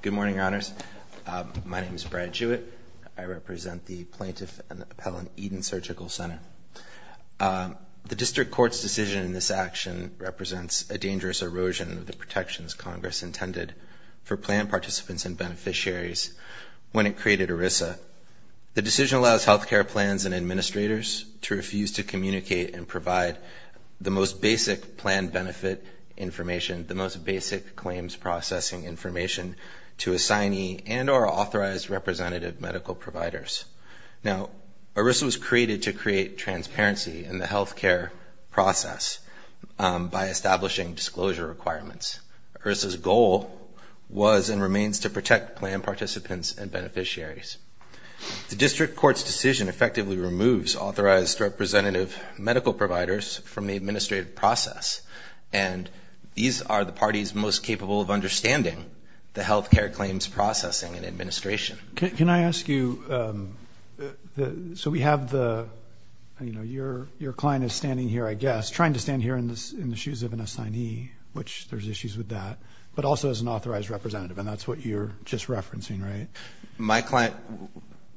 Good morning, Your Honors. My name is Brad Jewett. I represent the Plaintiff and the Appellant Eden Surgical Center. The District Court's decision in this action represents a dangerous erosion of the protections Congress intended for plan participants and beneficiaries when it created ERISA. The decision allows health care plans and administrators to refuse to communicate and provide the most basic plan benefit information, the most basic claims processing information, to assignee and or authorized representative medical providers. Now, ERISA was created to create transparency in the health care process by establishing disclosure requirements. ERISA's goal was and remains to protect plan participants and beneficiaries. The District Court's decision effectively removes authorized representative medical providers from the administrative process, and these are the parties most capable of understanding the health care claims processing and administration. Can I ask you, so we have the, you know, your client is standing here, I guess, trying to stand here in the shoes of an assignee, which there's issues with that, but also as an authorized representative, and that's what you're just referencing, right? My client,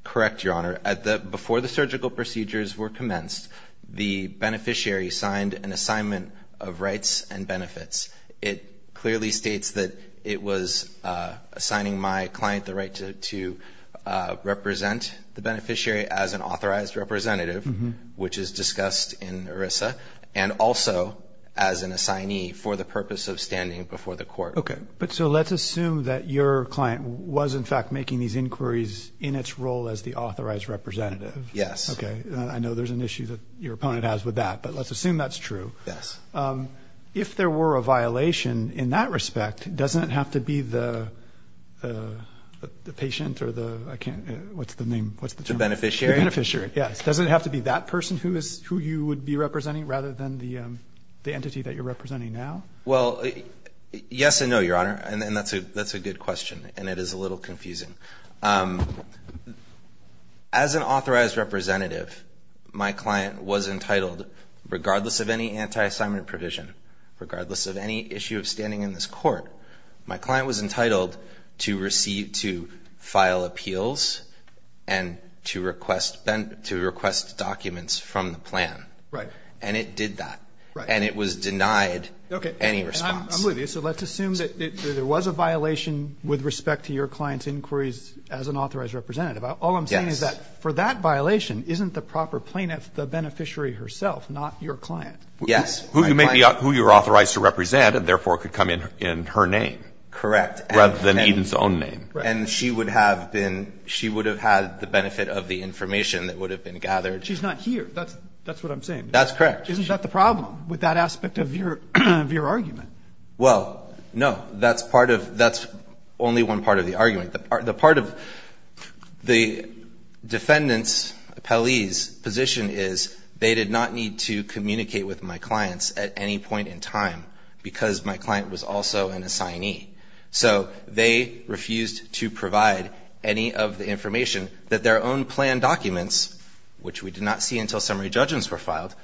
correct, Your Honor, before the surgical procedures were commenced, the beneficiary signed an assignment of rights and benefits. It clearly states that it was assigning my client the right to represent the beneficiary as an authorized representative, which is discussed in ERISA, and also as an assignee for the purpose of standing before the court. Okay, but so let's assume that your client was, in fact, making these inquiries in its role as the authorized representative. Yes. Okay, I know there's an issue that your opponent has with that, but let's assume that's true. Yes. If there were a violation in that respect, doesn't it have to be the patient or the, I can't, what's the name, what's the term? The beneficiary. The beneficiary, yes. Doesn't it have to be that person who you would be representing rather than the entity that you're representing now? Well, yes and no, Your Honor, and that's a good question, and it is a little confusing. As an authorized representative, my client was entitled, regardless of any anti-assignment provision, regardless of any issue of standing in this court, my client was entitled to file appeals and to request documents from the plan. Right. And it did that. Right. And it was denied any response. Okay. And I'm with you, so let's assume that there was a violation with respect to your client's inquiries as an authorized representative. Yes. All I'm saying is that for that violation, isn't the proper plaintiff the beneficiary herself, not your client? Yes. Who you're authorized to represent and therefore could come in in her name. Correct. Rather than Eden's own name. Right. And she would have been, she would have had the benefit of the information that would have been gathered. She's not here. That's what I'm saying. That's correct. Isn't that the problem with that aspect of your argument? Well, no. That's part of, that's only one part of the argument. The part of the defendant's, appellee's position is they did not need to communicate with my clients at any point in time because my client was also an assignee. So they refused to provide any of the information that their own plan documents, which we did not see until summary judgments were filed,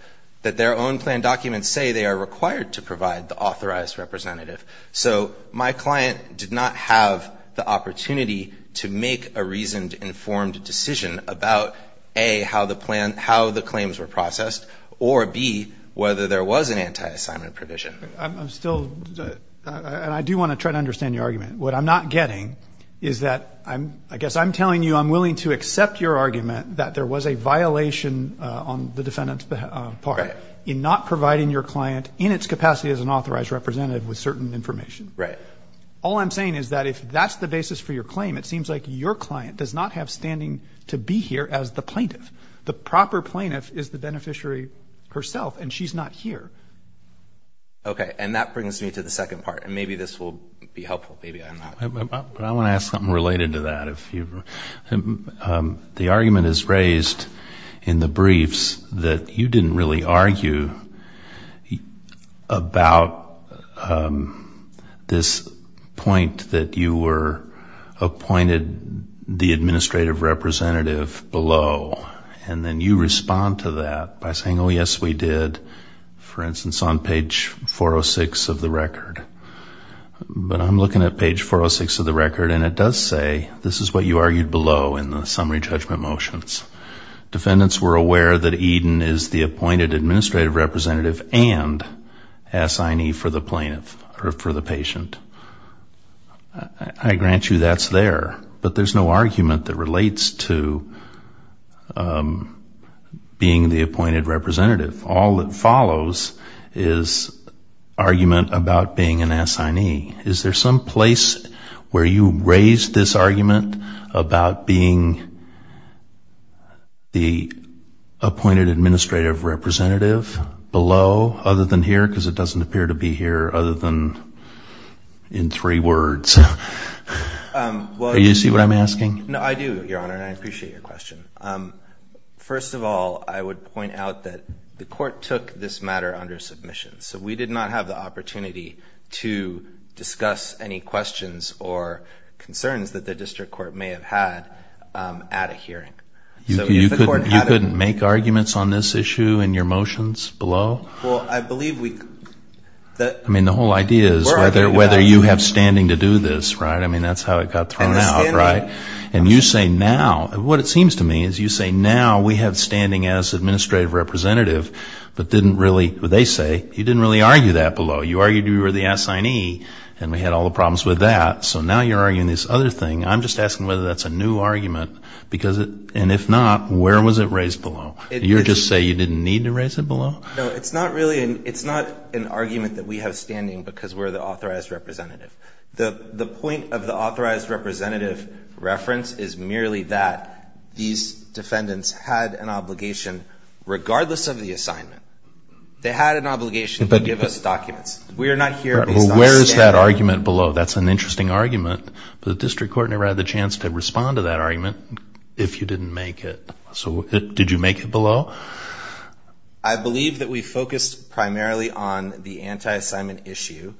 that their own plan documents say they are required to provide the authorized representative. So my client did not have the opportunity to make a reasoned, informed decision about, A, how the plan, how the claims were processed, or, B, whether there was an anti-assignment provision. I'm still, and I do want to try to understand your argument. What I'm not getting is that I'm, I guess I'm telling you I'm willing to accept your argument that there was a violation on the defendant's part. Right. In not providing your client in its capacity as an authorized representative with certain information. Right. All I'm saying is that if that's the basis for your claim, it seems like your client does not have standing to be here as the plaintiff. The proper plaintiff is the beneficiary herself, and she's not here. Okay. And that brings me to the second part, and maybe this will be helpful. Maybe I'm not. I want to ask something related to that. The argument is raised in the briefs that you didn't really argue about this point that you were appointed the administrative representative below, and then you respond to that by saying, oh, yes, we did, for instance, on page 406 of the record. But I'm looking at page 406 of the record, and it does say this is what you argued below in the summary judgment motions. Defendants were aware that Eden is the appointed administrative representative and assignee for the patient. I grant you that's there, but there's no argument that relates to being the appointed representative. All that follows is argument about being an assignee. Is there some place where you raised this argument about being the appointed administrative representative below other than here? Because it doesn't appear to be here other than in three words. Do you see what I'm asking? No, I do, Your Honor, and I appreciate your question. First of all, I would point out that the court took this matter under submission, so we did not have the opportunity to discuss any questions or concerns that the district court may have had at a hearing. You couldn't make arguments on this issue in your motions below? Well, I believe we could. I mean, the whole idea is whether you have standing to do this, right? I mean, that's how it got thrown out, right? And you say now, what it seems to me is you say now we have standing as administrative representative, but didn't really, they say, you didn't really argue that below. You argued you were the assignee and we had all the problems with that, so now you're arguing this other thing. I'm just asking whether that's a new argument, and if not, where was it raised below? Did you just say you didn't need to raise it below? No, it's not really an argument that we have standing because we're the authorized representative. The point of the authorized representative reference is merely that these defendants had an obligation, regardless of the assignment, they had an obligation to give us documents. We are not here based on standing. Well, where is that argument below? That's an interesting argument, but the district court never had the chance to respond to that argument if you didn't make it. So did you make it below? I believe that we focused primarily on the anti-assignment issue.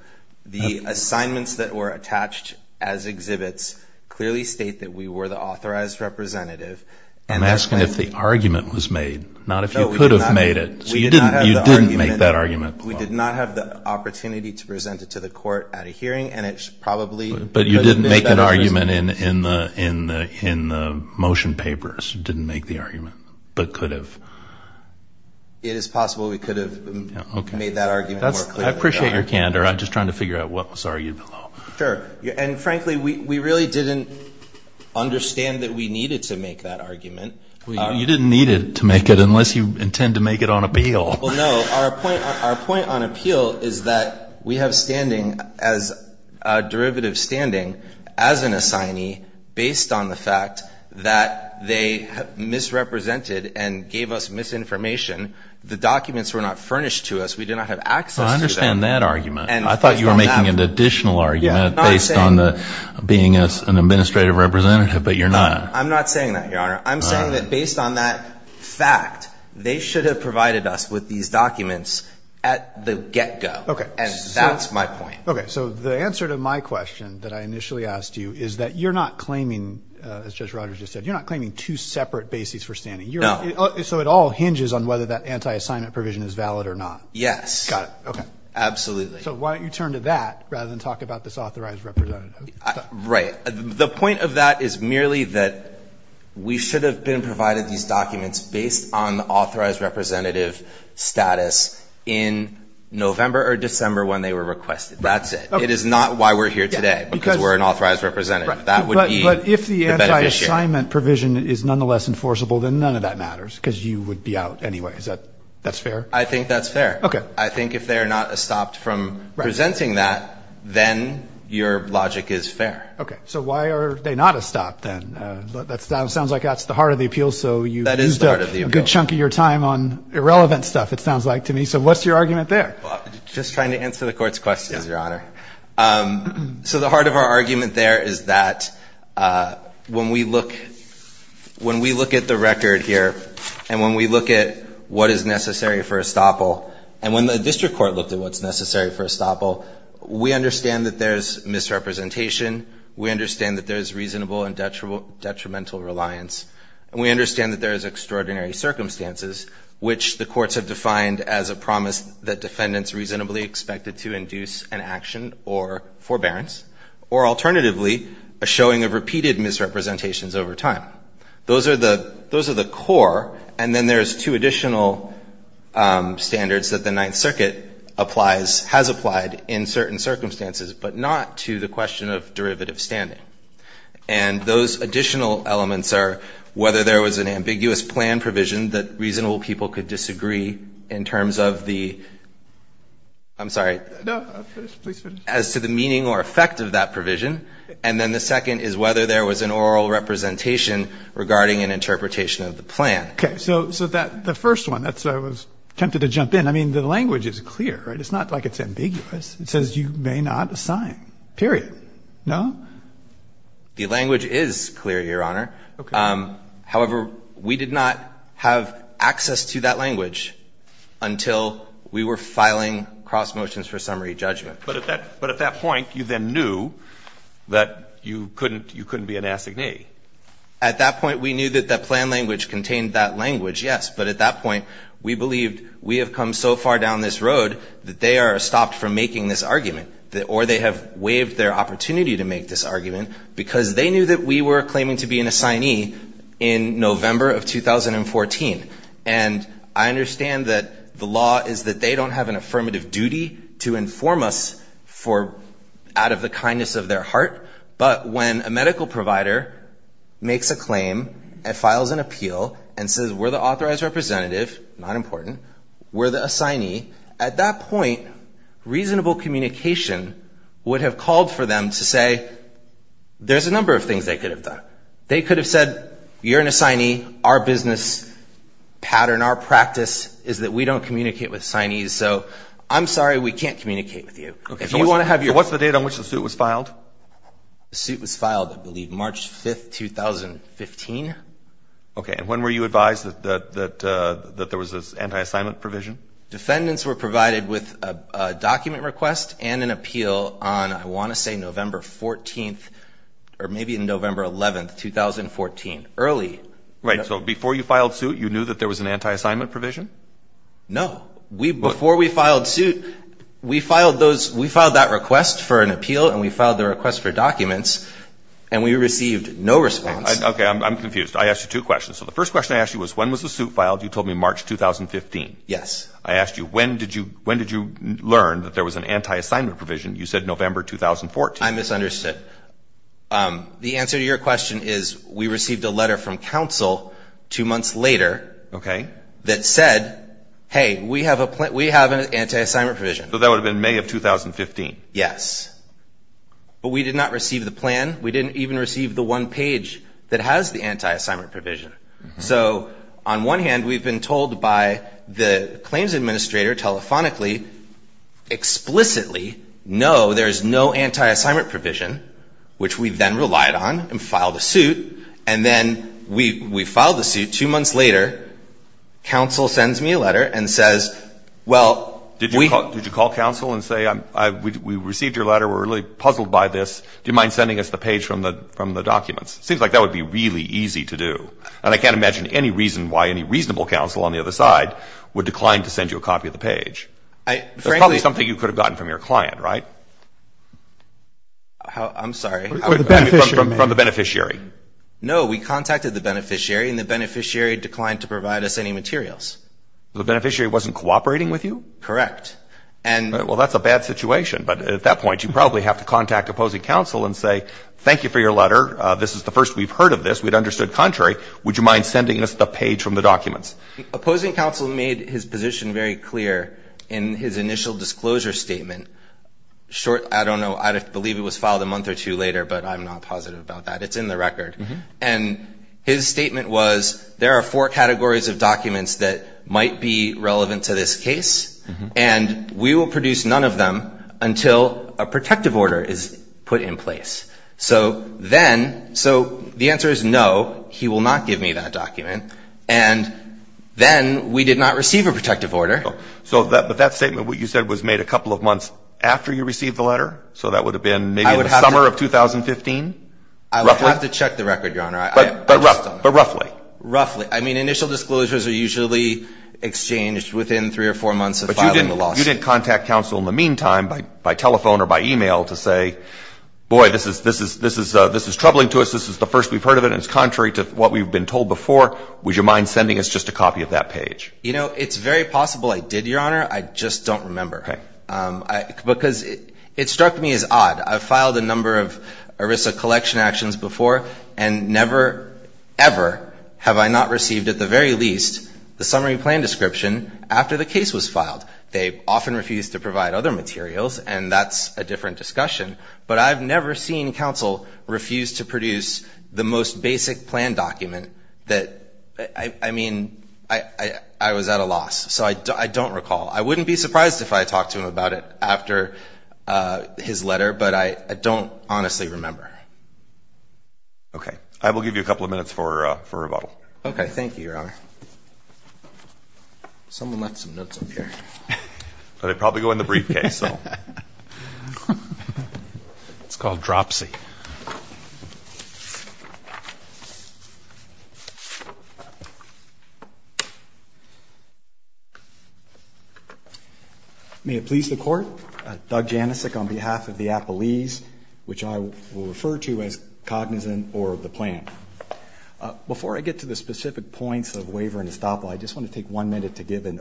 The assignments that were attached as exhibits clearly state that we were the authorized representative. I'm asking if the argument was made, not if you could have made it. No, we did not. So you didn't make that argument. We did not have the opportunity to present it to the court at a hearing, and it's probably... But you didn't make that argument in the motion papers. You didn't make the argument, but could have. It is possible we could have made that argument more clearly. I appreciate your candor. I'm just trying to figure out what was argued below. Sure. And frankly, we really didn't understand that we needed to make that argument. You didn't need to make it unless you intend to make it on appeal. Well, no. Our point on appeal is that we have standing as a derivative standing as an assignee based on the fact that they misrepresented and gave us misinformation. The documents were not furnished to us. We did not have access to them. I understand that argument. I thought you were making an additional argument based on being an administrative representative, but you're not. I'm not saying that, Your Honor. I'm saying that based on that fact, they should have provided us with these documents at the get-go. Okay. And that's my point. Okay. So the answer to my question that I initially asked you is that you're not claiming, as Judge Rogers just said, you're not claiming two separate bases for standing. No. So it all hinges on whether that anti-assignment provision is valid or not. Yes. Got it. Okay. Absolutely. So why don't you turn to that rather than talk about this authorized representative? Right. The point of that is merely that we should have been provided these documents based on authorized representative status in November or December when they were requested. That's it. It is not why we're here today because we're an authorized representative. That would be the benefit here. But if the anti-assignment provision is nonetheless enforceable, then none of that matters because you would be out anyway. Is that fair? I think that's fair. Okay. I think if they're not stopped from presenting that, then your logic is fair. Okay. So why are they not a stop then? That sounds like that's the heart of the appeal. So you've used up a good chunk of your time on irrelevant stuff, it sounds like to me. So what's your argument there? Just trying to answer the Court's questions, Your Honor. So the heart of our argument there is that when we look at the record here and when we look at what is necessary for a stopple, and when the district court looked at what's necessary for a stopple, we understand that there's misrepresentation, we understand that there's reasonable and detrimental reliance, and we understand that there is extraordinary circumstances, which the courts have defined as a promise that defendants reasonably expected to induce an action or forbearance, or alternatively, a showing of repeated misrepresentations over time. Those are the core, and then there's two additional standards that the Ninth Circuit applies, has applied in certain circumstances, but not to the question of derivative standing. And those additional elements are whether there was an ambiguous plan provision that reasonable people could disagree in terms of the, I'm sorry, as to the meaning or effect of that provision, and then the second is whether there was an oral representation regarding an interpretation of the plan. Okay. So the first one, that's why I was tempted to jump in. I mean, the language is clear, right? It's not like it's ambiguous. It says you may not assign, period. No? The language is clear, Your Honor. Okay. However, we did not have access to that language until we were filing cross motions for summary judgment. But at that point, you then knew that you couldn't be an assignee. At that point, we knew that that plan language contained that language, yes. But at that point, we believed we have come so far down this road that they are stopped from making this argument, or they have waived their opportunity to make this argument because they knew that we were claiming to be an assignee in November of 2014. And I understand that the law is that they don't have an affirmative duty to inform us out of the kindness of their heart. But when a medical provider makes a claim and files an appeal and says we're the authorized representative, not important, we're the assignee, at that point, reasonable communication would have called for them to say, there's a number of things they could have done. They could have said, you're an assignee. Our business pattern, our practice is that we don't communicate with assignees. So I'm sorry we can't communicate with you. So what's the date on which the suit was filed? The suit was filed, I believe, March 5, 2015. Okay. And when were you advised that there was this anti-assignment provision? Defendants were provided with a document request and an appeal on, I want to say, November 14th or maybe in November 11th, 2014, early. Right. So before you filed suit, you knew that there was an anti-assignment provision? No. Before we filed suit, we filed that request for an appeal and we filed the request for documents, and we received no response. Okay. I'm confused. I asked you two questions. So the first question I asked you was, when was the suit filed? You told me March 2015. Yes. I asked you, when did you learn that there was an anti-assignment provision? You said November 2014. I misunderstood. The answer to your question is, we received a letter from counsel two months later that said, hey, we have an anti-assignment provision. So that would have been May of 2015. Yes. But we did not receive the plan. We didn't even receive the one page that has the anti-assignment provision. So on one hand, we've been told by the claims administrator telephonically, explicitly, no, there's no anti-assignment provision, which we then relied on and filed a suit. And then we filed the suit two months later. Counsel sends me a letter and says, well, we – Did you call counsel and say, we received your letter. We're really puzzled by this. Do you mind sending us the page from the documents? It seems like that would be really easy to do. And I can't imagine any reason why any reasonable counsel on the other side would decline to send you a copy of the page. There's probably something you could have gotten from your client, right? I'm sorry. From the beneficiary. No, we contacted the beneficiary, and the beneficiary declined to provide us any materials. The beneficiary wasn't cooperating with you? Correct. Well, that's a bad situation. But at that point, you probably have to contact opposing counsel and say, thank you for your letter. This is the first we've heard of this. We'd understood contrary. Would you mind sending us the page from the documents? Opposing counsel made his position very clear in his initial disclosure statement. I don't know. I believe it was filed a month or two later, but I'm not positive about that. It's in the record. And his statement was, there are four categories of documents that might be relevant to this case, and we will produce none of them until a protective order is put in place. So then – so the answer is no, he will not give me that document. And then we did not receive a protective order. So that statement, what you said, was made a couple of months after you received the letter? So that would have been maybe in the summer of 2015? I would have to check the record, Your Honor. But roughly? Roughly. I mean, initial disclosures are usually exchanged within three or four months of filing the lawsuit. But you didn't contact counsel in the meantime by telephone or by e-mail to say, boy, this is troubling to us. This is the first we've heard of it, and it's contrary to what we've been told before. Would you mind sending us just a copy of that page? You know, it's very possible I did, Your Honor. I just don't remember. Okay. Because it struck me as odd. I've filed a number of ERISA collection actions before, and never ever have I not received at the very least the summary plan description after the case was filed. They often refuse to provide other materials, and that's a different discussion. But I've never seen counsel refuse to produce the most basic plan document that, I mean, I was at a loss. So I don't recall. I wouldn't be surprised if I talked to him about it after his letter, but I don't honestly remember. Okay. I will give you a couple of minutes for rebuttal. Okay. Thank you, Your Honor. Someone left some notes up here. They probably go in the briefcase, so. It's called Dropsy. May it please the Court, Doug Janicek on behalf of the Appellees, which I will refer to as cognizant or the plan. Before I get to the specific points of waiver and estoppel, I just want to take one minute to give kind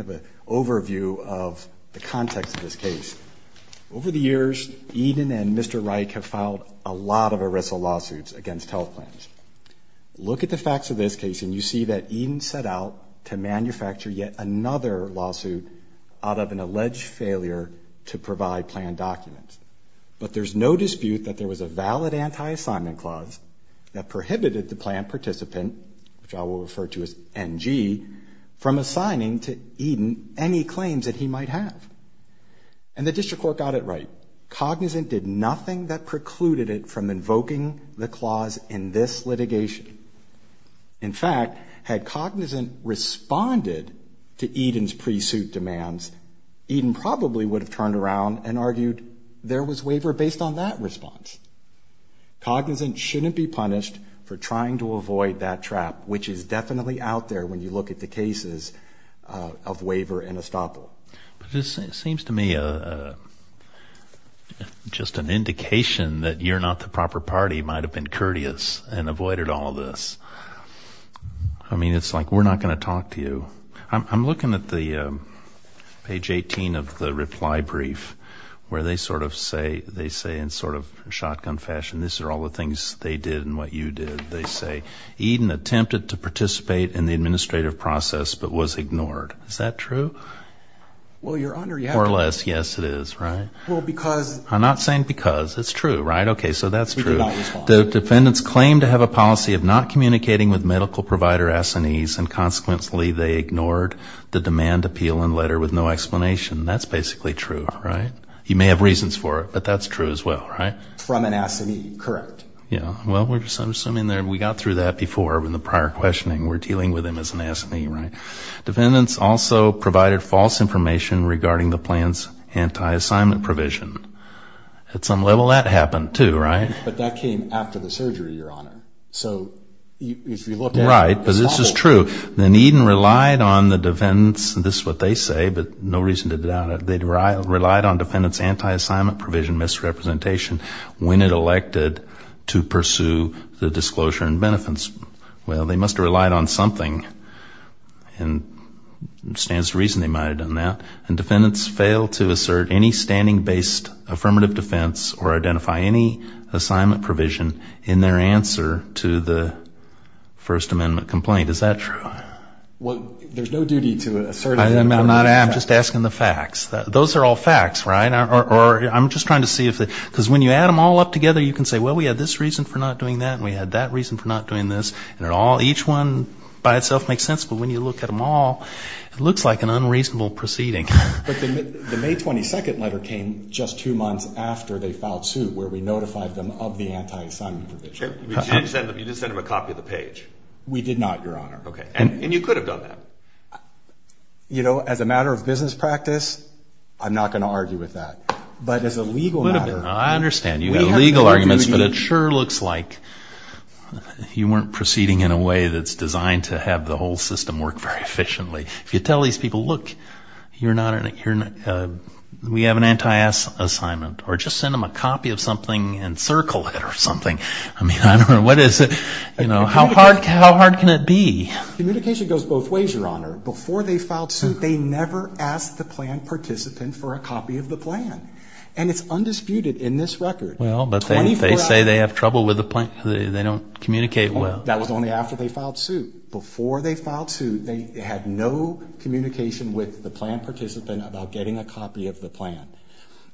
of an overview of the context of this case. Over the years, Eden and Mr. Reich have filed a lot of ERISA lawsuits against health plans. Look at the facts of this case, and you see that Eden set out to manufacture yet another lawsuit out of an alleged failure to provide plan documents. But there's no dispute that there was a valid anti-assignment clause that prohibited the plan participant, which I will refer to as NG, from assigning to Eden any claims that he might have. And the district court got it right. Cognizant did nothing that precluded it from invoking the clause in this litigation. In fact, had cognizant responded to Eden's pre-suit demands, Eden probably would have turned around and argued there was waiver based on that response. Cognizant shouldn't be punished for trying to avoid that trap, which is definitely out there when you look at the cases of waiver and estoppel. It seems to me just an indication that you're not the proper party might have been courteous and avoided all this. I mean, it's like we're not going to talk to you. I'm looking at the page 18 of the reply brief where they sort of say, they say in sort of shotgun fashion, these are all the things they did and what you did. They say, Eden attempted to participate in the administrative process but was ignored. Is that true? Well, Your Honor, yes. More or less, yes, it is, right? Well, because. I'm not saying because. It's true, right? Okay, so that's true. The defendants claim to have a policy of not communicating with medical provider S&Es, and consequently they ignored the demand appeal and letter with no explanation. That's basically true, right? You may have reasons for it, but that's true as well, right? From an S&E, correct. Yeah. Well, I'm assuming we got through that before in the prior questioning. We're dealing with them as an S&E, right? Defendants also provided false information regarding the plan's anti-assignment provision. At some level, that happened too, right? But that came after the surgery, Your Honor. Right, but this is true. Then Eden relied on the defendants. This is what they say, but no reason to doubt it. They relied on defendants' anti-assignment provision misrepresentation when it elected to pursue the disclosure and benefits. Well, they must have relied on something, and there stands to reason they might have done that. And defendants failed to assert any standing-based affirmative defense or identify any assignment provision in their answer to the First Amendment complaint. Is that true? Well, there's no duty to assert it. I'm not just asking the facts. Those are all facts, right? Or I'm just trying to see if the – because when you add them all up together, you can say, well, we had this reason for not doing that and we had that reason for not doing this, and each one by itself makes sense, but when you look at them all, it looks like an unreasonable proceeding. But the May 22 letter came just two months after they filed suit where we notified them of the anti-assignment provision. You did send them a copy of the page. We did not, Your Honor. And you could have done that. You know, as a matter of business practice, I'm not going to argue with that. But as a legal matter – I understand you have legal arguments, but it sure looks like you weren't proceeding in a way that's designed to have the whole system work very efficiently. If you tell these people, look, you're not – we have an anti-assignment, or just send them a copy of something and circle it or something. I mean, I don't know. What is it? How hard can it be? Communication goes both ways, Your Honor. Before they filed suit, they never asked the plan participant for a copy of the plan. And it's undisputed in this record. Well, but they say they have trouble with the plan. They don't communicate well. That was only after they filed suit. Before they filed suit, they had no communication with the plan participant about getting a copy of the plan.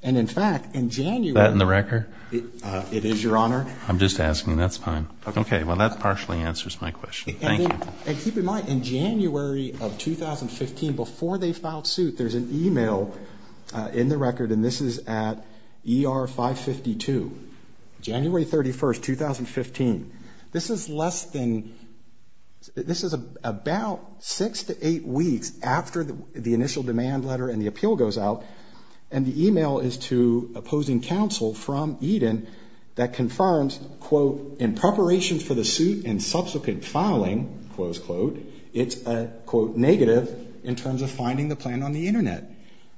And, in fact, in January – Is that in the record? It is, Your Honor. I'm just asking. That's fine. Okay. Well, that partially answers my question. Thank you. And keep in mind, in January of 2015, before they filed suit, there's an email in the record, and this is at ER 552. January 31st, 2015. This is less than – this is about six to eight weeks after the initial demand letter and the appeal goes out, and the email is to opposing counsel from Eden that confirms, quote, in preparation for the suit and subsequent filing, close quote, it's a, quote, negative in terms of finding the plan on the Internet.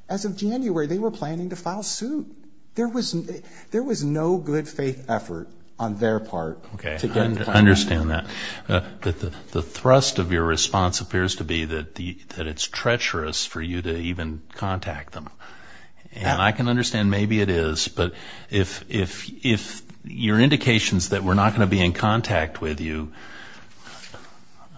As of January, they were planning to file suit. There was no good faith effort on their part. Okay, I understand that. The thrust of your response appears to be that it's treacherous for you to even contact them. And I can understand maybe it is, but if your indications that we're not going to be in contact with you –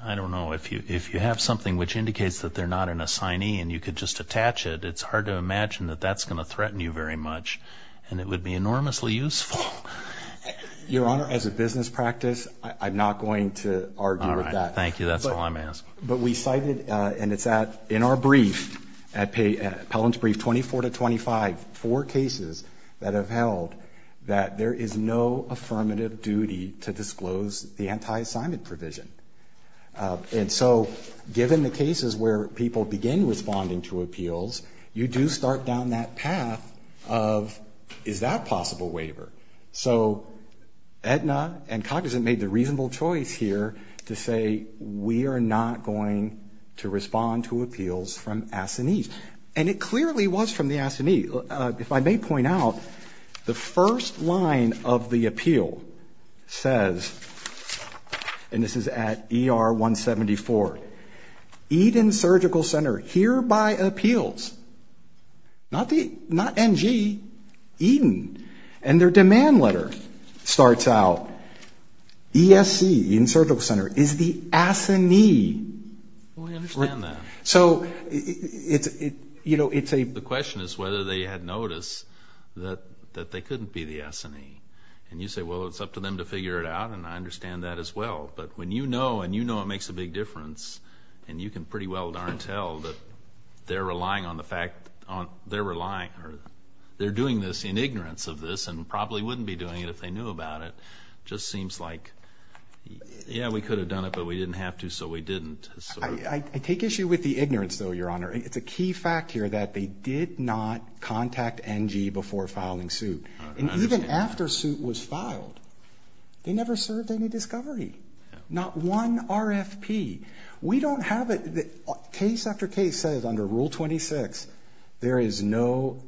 I don't know, if you have something which indicates that they're not an assignee and you could just attach it, it's hard to imagine that that's going to threaten you very much, and it would be enormously useful. Your Honor, as a business practice, I'm not going to argue with that. All right, thank you. That's all I'm asking. But we cited, and it's at, in our brief, Pelham's brief 24 to 25, four cases that have held that there is no affirmative duty to disclose the anti-assignment provision. And so given the cases where people begin responding to appeals, you do start down that path of, is that a possible waiver? So Aetna and Cognizant made the reasonable choice here to say, we are not going to respond to appeals from assignees. And it clearly was from the assignee. If I may point out, the first line of the appeal says, and this is at ER 174, Aetna Surgical Center hereby appeals, not NG, Aetna, and their demand letter starts out, ESC, Aetna Surgical Center, is the assignee. We understand that. So it's a... The question is whether they had noticed that they couldn't be the assignee. And you say, well, it's up to them to figure it out, and I understand that as well. But when you know, and you know it makes a big difference, and you can pretty well darn tell that they're relying on the fact, they're relying, or they're doing this in ignorance of this and probably wouldn't be doing it if they knew about it. It just seems like, yeah, we could have done it, but we didn't have to, so we didn't. I take issue with the ignorance, though, Your Honor. It's a key fact here that they did not contact NG before filing suit. And even after suit was filed, they never served any discovery. Not one RFP. We don't have it. Case after case says under Rule 26 there is no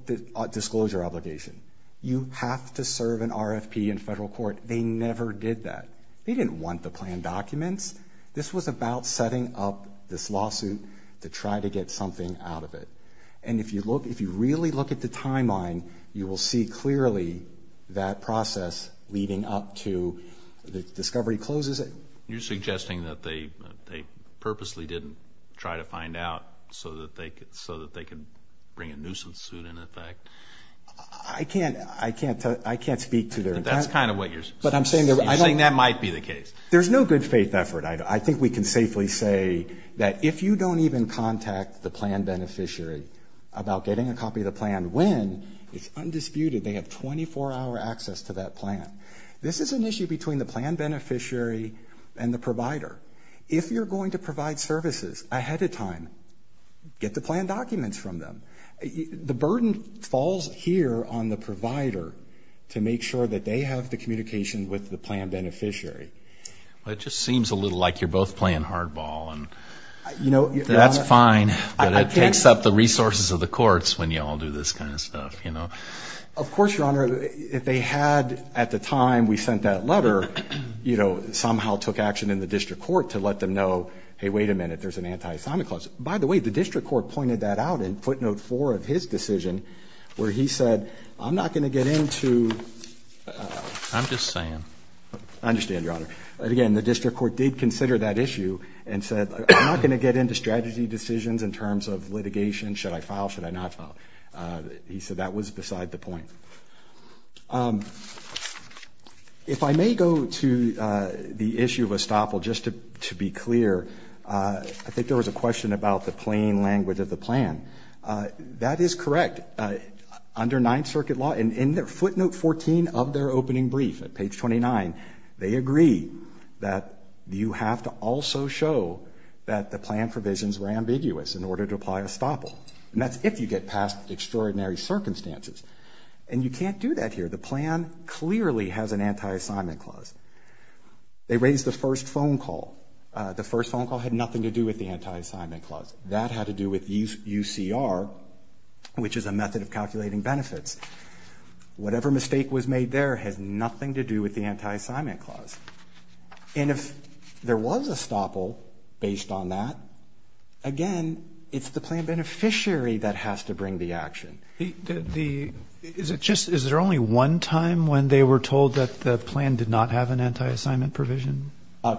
disclosure obligation. You have to serve an RFP in federal court. They never did that. They didn't want the planned documents. This was about setting up this lawsuit to try to get something out of it. And if you look, if you really look at the timeline, you will see clearly that process leading up to the discovery closes it. You're suggesting that they purposely didn't try to find out so that they could bring a nuisance suit into effect. I can't speak to their intent. That's kind of what you're saying. You're saying that might be the case. There's no good faith effort. I think we can safely say that if you don't even contact the planned beneficiary about getting a copy of the plan, when it's undisputed they have 24-hour access to that plan. This is an issue between the planned beneficiary and the provider. If you're going to provide services ahead of time, get the planned documents from them. The burden falls here on the provider to make sure that they have the communication with the planned beneficiary. It just seems a little like you're both playing hardball. That's fine, but it takes up the resources of the courts when you all do this kind of stuff. Of course, Your Honor, if they had at the time we sent that letter, somehow took action in the district court to let them know, hey, wait a minute, there's an anti-assignment clause. By the way, the district court pointed that out in footnote four of his decision where he said, I'm not going to get into – I'm just saying. I understand, Your Honor. Again, the district court did consider that issue and said, I'm not going to get into strategy decisions in terms of litigation. Should I file? Should I not file? He said that was beside the point. If I may go to the issue of estoppel, just to be clear, I think there was a question about the plain language of the plan. That is correct. Under Ninth Circuit law, in footnote 14 of their opening brief at page 29, they agree that you have to also show that the plan provisions were ambiguous in order to apply estoppel. And that's if you get past extraordinary circumstances. And you can't do that here. The plan clearly has an anti-assignment clause. They raised the first phone call. The first phone call had nothing to do with the anti-assignment clause. That had to do with UCR, which is a method of calculating benefits. Whatever mistake was made there has nothing to do with the anti-assignment clause. And if there was estoppel based on that, again, it's the plan beneficiary that has to bring the action. Is there only one time when they were told that the plan did not have an anti-assignment provision?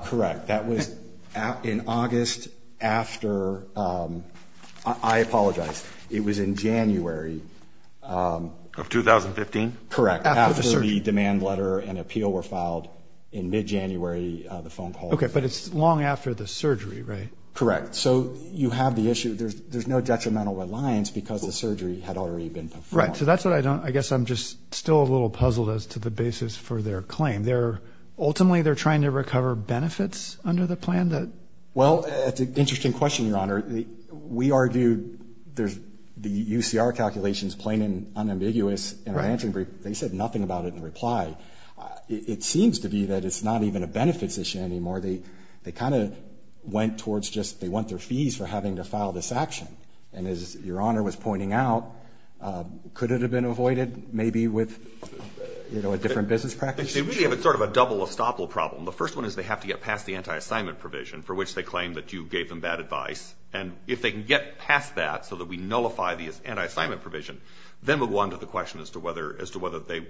Correct. That was in August after, I apologize, it was in January. Of 2015? Correct. After the demand letter and appeal were filed in mid-January, the phone call. Okay, but it's long after the surgery, right? Correct. So you have the issue. There's no detrimental reliance because the surgery had already been performed. Right. So that's what I don't, I guess I'm just still a little puzzled as to the basis for their claim. Ultimately they're trying to recover benefits under the plan? Well, it's an interesting question, Your Honor. We argued the UCR calculations plain and unambiguous in our answering brief. They said nothing about it in reply. It seems to be that it's not even a benefits issue anymore. They kind of went towards just they want their fees for having to file this action. And as Your Honor was pointing out, could it have been avoided maybe with a different business practice? They really have sort of a double estoppel problem. The first one is they have to get past the anti-assignment provision for which they claim that you gave them bad advice. And if they can get past that so that we nullify the anti-assignment provision, then we'll go on to the question as to whether they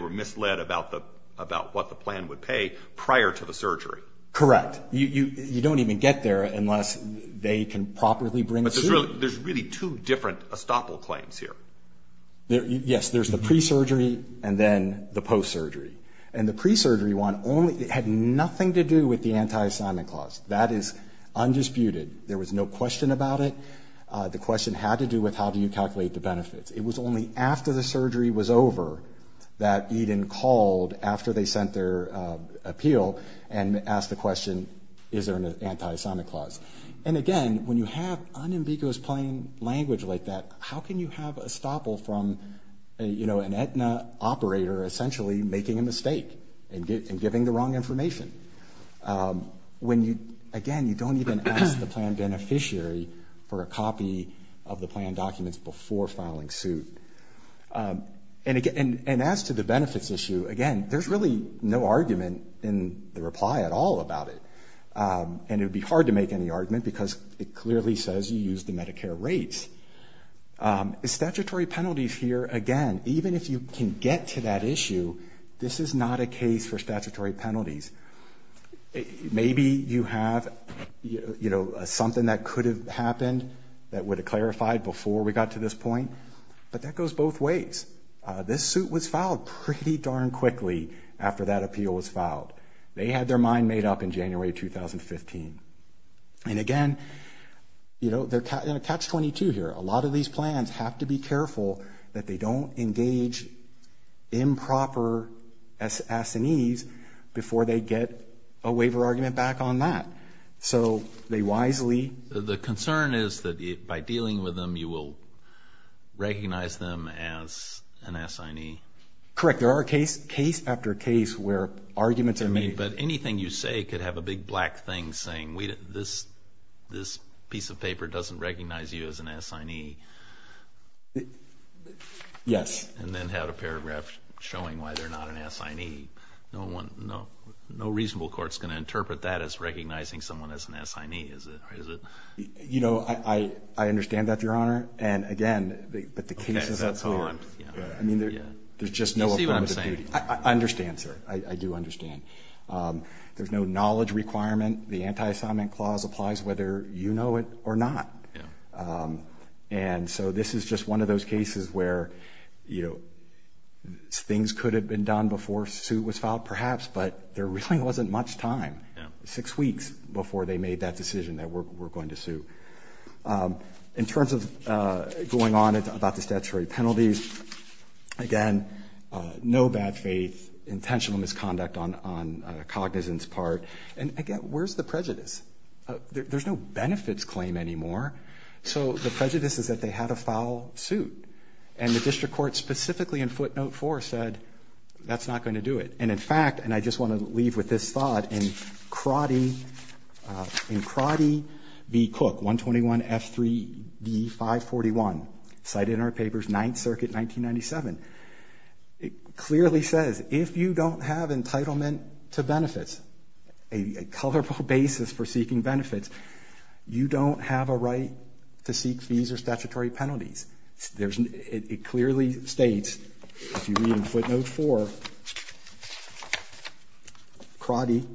were misled about what the plan would pay prior to the surgery. Correct. You don't even get there unless they can properly bring it through. But there's really two different estoppel claims here. Yes, there's the pre-surgery and then the post-surgery. And the pre-surgery one had nothing to do with the anti-assignment clause. That is undisputed. There was no question about it. The question had to do with how do you calculate the benefits. It was only after the surgery was over that Eden called after they sent their appeal and asked the question, is there an anti-assignment clause? And again, when you have unambiguous plain language like that, how can you have estoppel from an Aetna operator essentially making a mistake and giving the wrong information? Again, you don't even ask the plan beneficiary for a copy of the plan documents before filing suit. And as to the benefits issue, again, there's really no argument in the reply at all about it. And it would be hard to make any argument because it clearly says you used the Medicare rates. Statutory penalties here, again, even if you can get to that issue, this is not a case for statutory penalties. Maybe you have something that could have happened that would have clarified before we got to this point, but that goes both ways. This suit was filed pretty darn quickly after that appeal was filed. They had their mind made up in January 2015. And again, you know, catch 22 here. A lot of these plans have to be careful that they don't engage improper S&Es before they get a waiver argument back on that. So they wisely. The concern is that by dealing with them, you will recognize them as an S&E. Correct. There are case after case where arguments are made. But anything you say could have a big black thing saying this piece of paper doesn't recognize you as an S&E. Yes. And then have a paragraph showing why they're not an S&E. No reasonable court is going to interpret that as recognizing someone as an S&E, is it? You know, I understand that, Your Honor. And, again, but the case is at hand. Do you see what I'm saying? I understand, sir. I do understand. There's no knowledge requirement. The anti-assignment clause applies whether you know it or not. And so this is just one of those cases where, you know, things could have been done before a suit was filed perhaps, but there really wasn't much time, six weeks before they made that decision that we're going to sue. In terms of going on about the statutory penalties, again, no bad faith, intentional misconduct on Cognizant's part. And, again, where's the prejudice? There's no benefits claim anymore. So the prejudice is that they had a foul suit. And the district court specifically in footnote four said that's not going to do it. And, in fact, and I just want to leave with this thought, in Crotty v. Cook, 121F3D541, cited in our papers, 9th Circuit, 1997, it clearly says if you don't have entitlement to benefits, a coverable basis for seeking benefits, you don't have a right to seek fees or statutory penalties. It clearly states, if you read in footnote four, Crotty,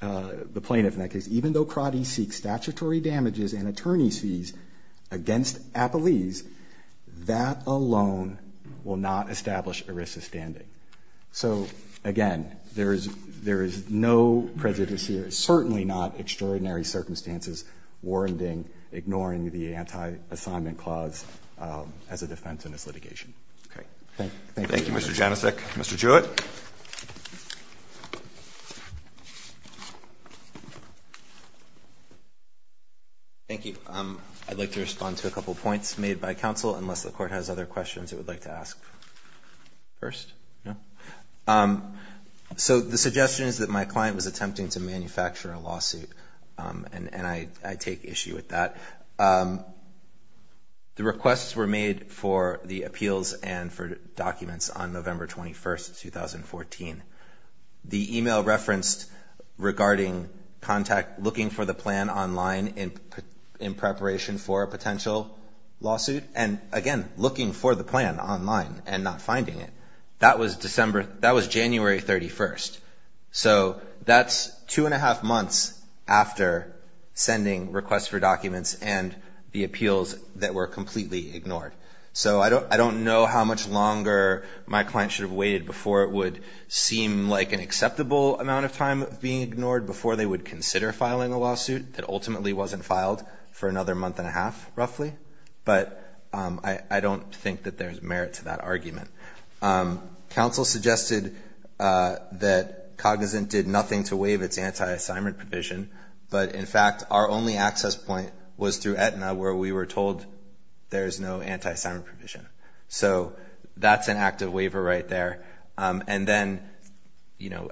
the plaintiff in that case, even though Crotty seeks statutory damages and attorney's fees against Appelese, that alone will not establish ERISA standing. So, again, there is no prejudice here. Certainly not extraordinary circumstances warranting ignoring the anti-assignment clause as a defense in this litigation. Thank you. Roberts. Thank you, Mr. Janicek. Mr. Jewett. Jewett. Thank you. I'd like to respond to a couple of points made by counsel, unless the Court has other questions it would like to ask first. No? So the suggestion is that my client was attempting to manufacture a lawsuit, and I take issue with that. The requests were made for the appeals and for documents on November 21st, 2014. The email referenced regarding contact looking for the plan online in preparation for a potential lawsuit, and, again, looking for the plan online and not finding it. That was January 31st. So that's two and a half months after sending requests for documents and the appeals that were completely ignored. So I don't know how much longer my client should have waited before it would seem like an acceptable amount of time of being ignored before they would consider filing a lawsuit that ultimately wasn't filed for another month and a half, roughly. But I don't think that there's merit to that argument. Counsel suggested that Cognizant did nothing to waive its anti-assignment provision, but, in fact, our only access point was through Aetna, where we were told there is no anti-assignment provision. So that's an active waiver right there. And then,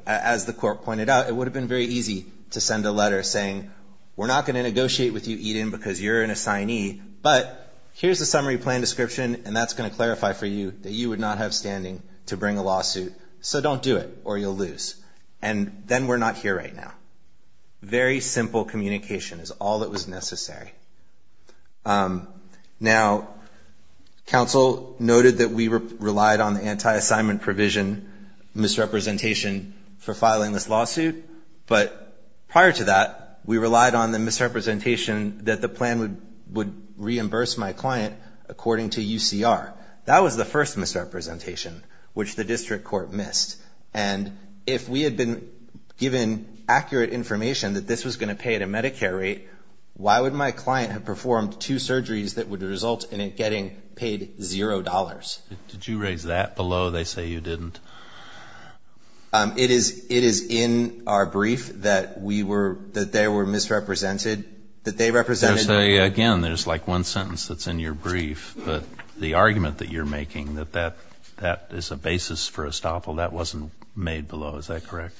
as the Court pointed out, it would have been very easy to send a letter saying, we're not going to negotiate with you, Eden, because you're an assignee, but here's the summary plan description, and that's going to clarify for you that you would not have standing to bring a lawsuit, so don't do it or you'll lose. And then we're not here right now. Very simple communication is all that was necessary. Now, counsel noted that we relied on the anti-assignment provision misrepresentation for filing this lawsuit, but prior to that, we relied on the misrepresentation that the plan would reimburse my client according to UCR. That was the first misrepresentation, which the district court missed. And if we had been given accurate information that this was going to pay at a Medicare rate, why would my client have performed two surgeries that would result in it getting paid $0? Did you raise that below? They say you didn't. It is in our brief that we were, that they were misrepresented, that they represented. Again, there's like one sentence that's in your brief, but the argument that you're making, that that is a basis for estoppel, that wasn't made below, is that correct?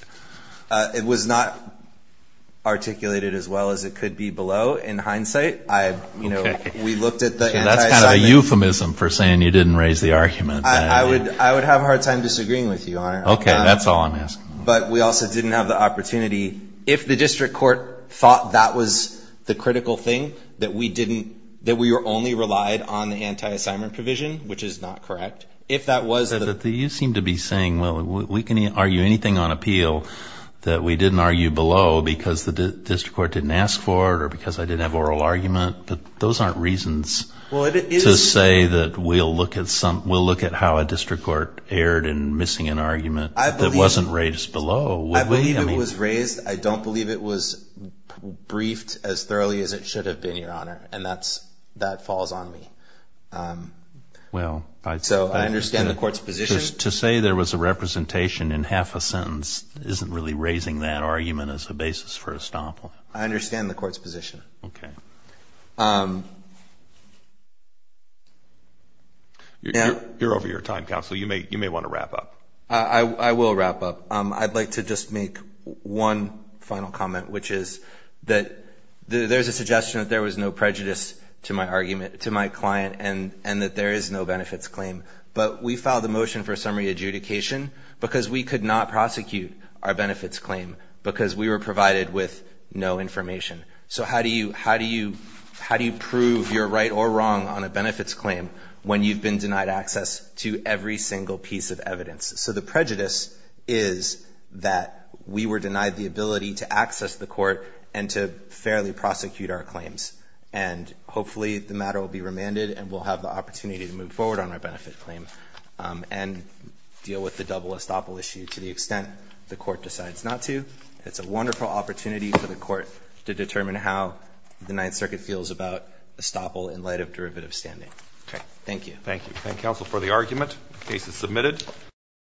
It was not articulated as well as it could be below. In hindsight, I, you know, we looked at the anti-assignment. I would have a hard time disagreeing with you on it. Okay. That's all I'm asking. But we also didn't have the opportunity. If the district court thought that was the critical thing, that we didn't, that we were only relied on the anti-assignment provision, which is not correct, if that was the. You seem to be saying, well, we can argue anything on appeal that we didn't argue below because the district court didn't ask for it or because I didn't have oral argument. But those aren't reasons to say that we'll look at some, we'll look at how a district court erred in missing an argument that wasn't raised below. I believe it was raised. I don't believe it was briefed as thoroughly as it should have been, Your Honor. And that's, that falls on me. Well. So I understand the court's position. To say there was a representation in half a sentence isn't really raising that argument as a basis for estoppel. I understand the court's position. Okay. You're over your time, counsel. You may want to wrap up. I will wrap up. I'd like to just make one final comment, which is that there's a suggestion that there was no prejudice to my argument, to my client, and that there is no benefits claim. But we filed a motion for summary adjudication because we could not prosecute our benefits claim because we were provided with no information. So how do you, how do you, how do you prove you're right or wrong on a benefits claim when you've been denied access to every single piece of evidence? So the prejudice is that we were denied the ability to access the court and to fairly prosecute our claims. And hopefully the matter will be remanded and we'll have the opportunity to move forward on our benefit claim and deal with the double estoppel issue to the extent the court decides not to. It's a wonderful opportunity for the court to determine how the Ninth Circuit feels about estoppel in light of derivative standing. Okay, thank you. Thank you. Thank counsel for the argument. Case is submitted.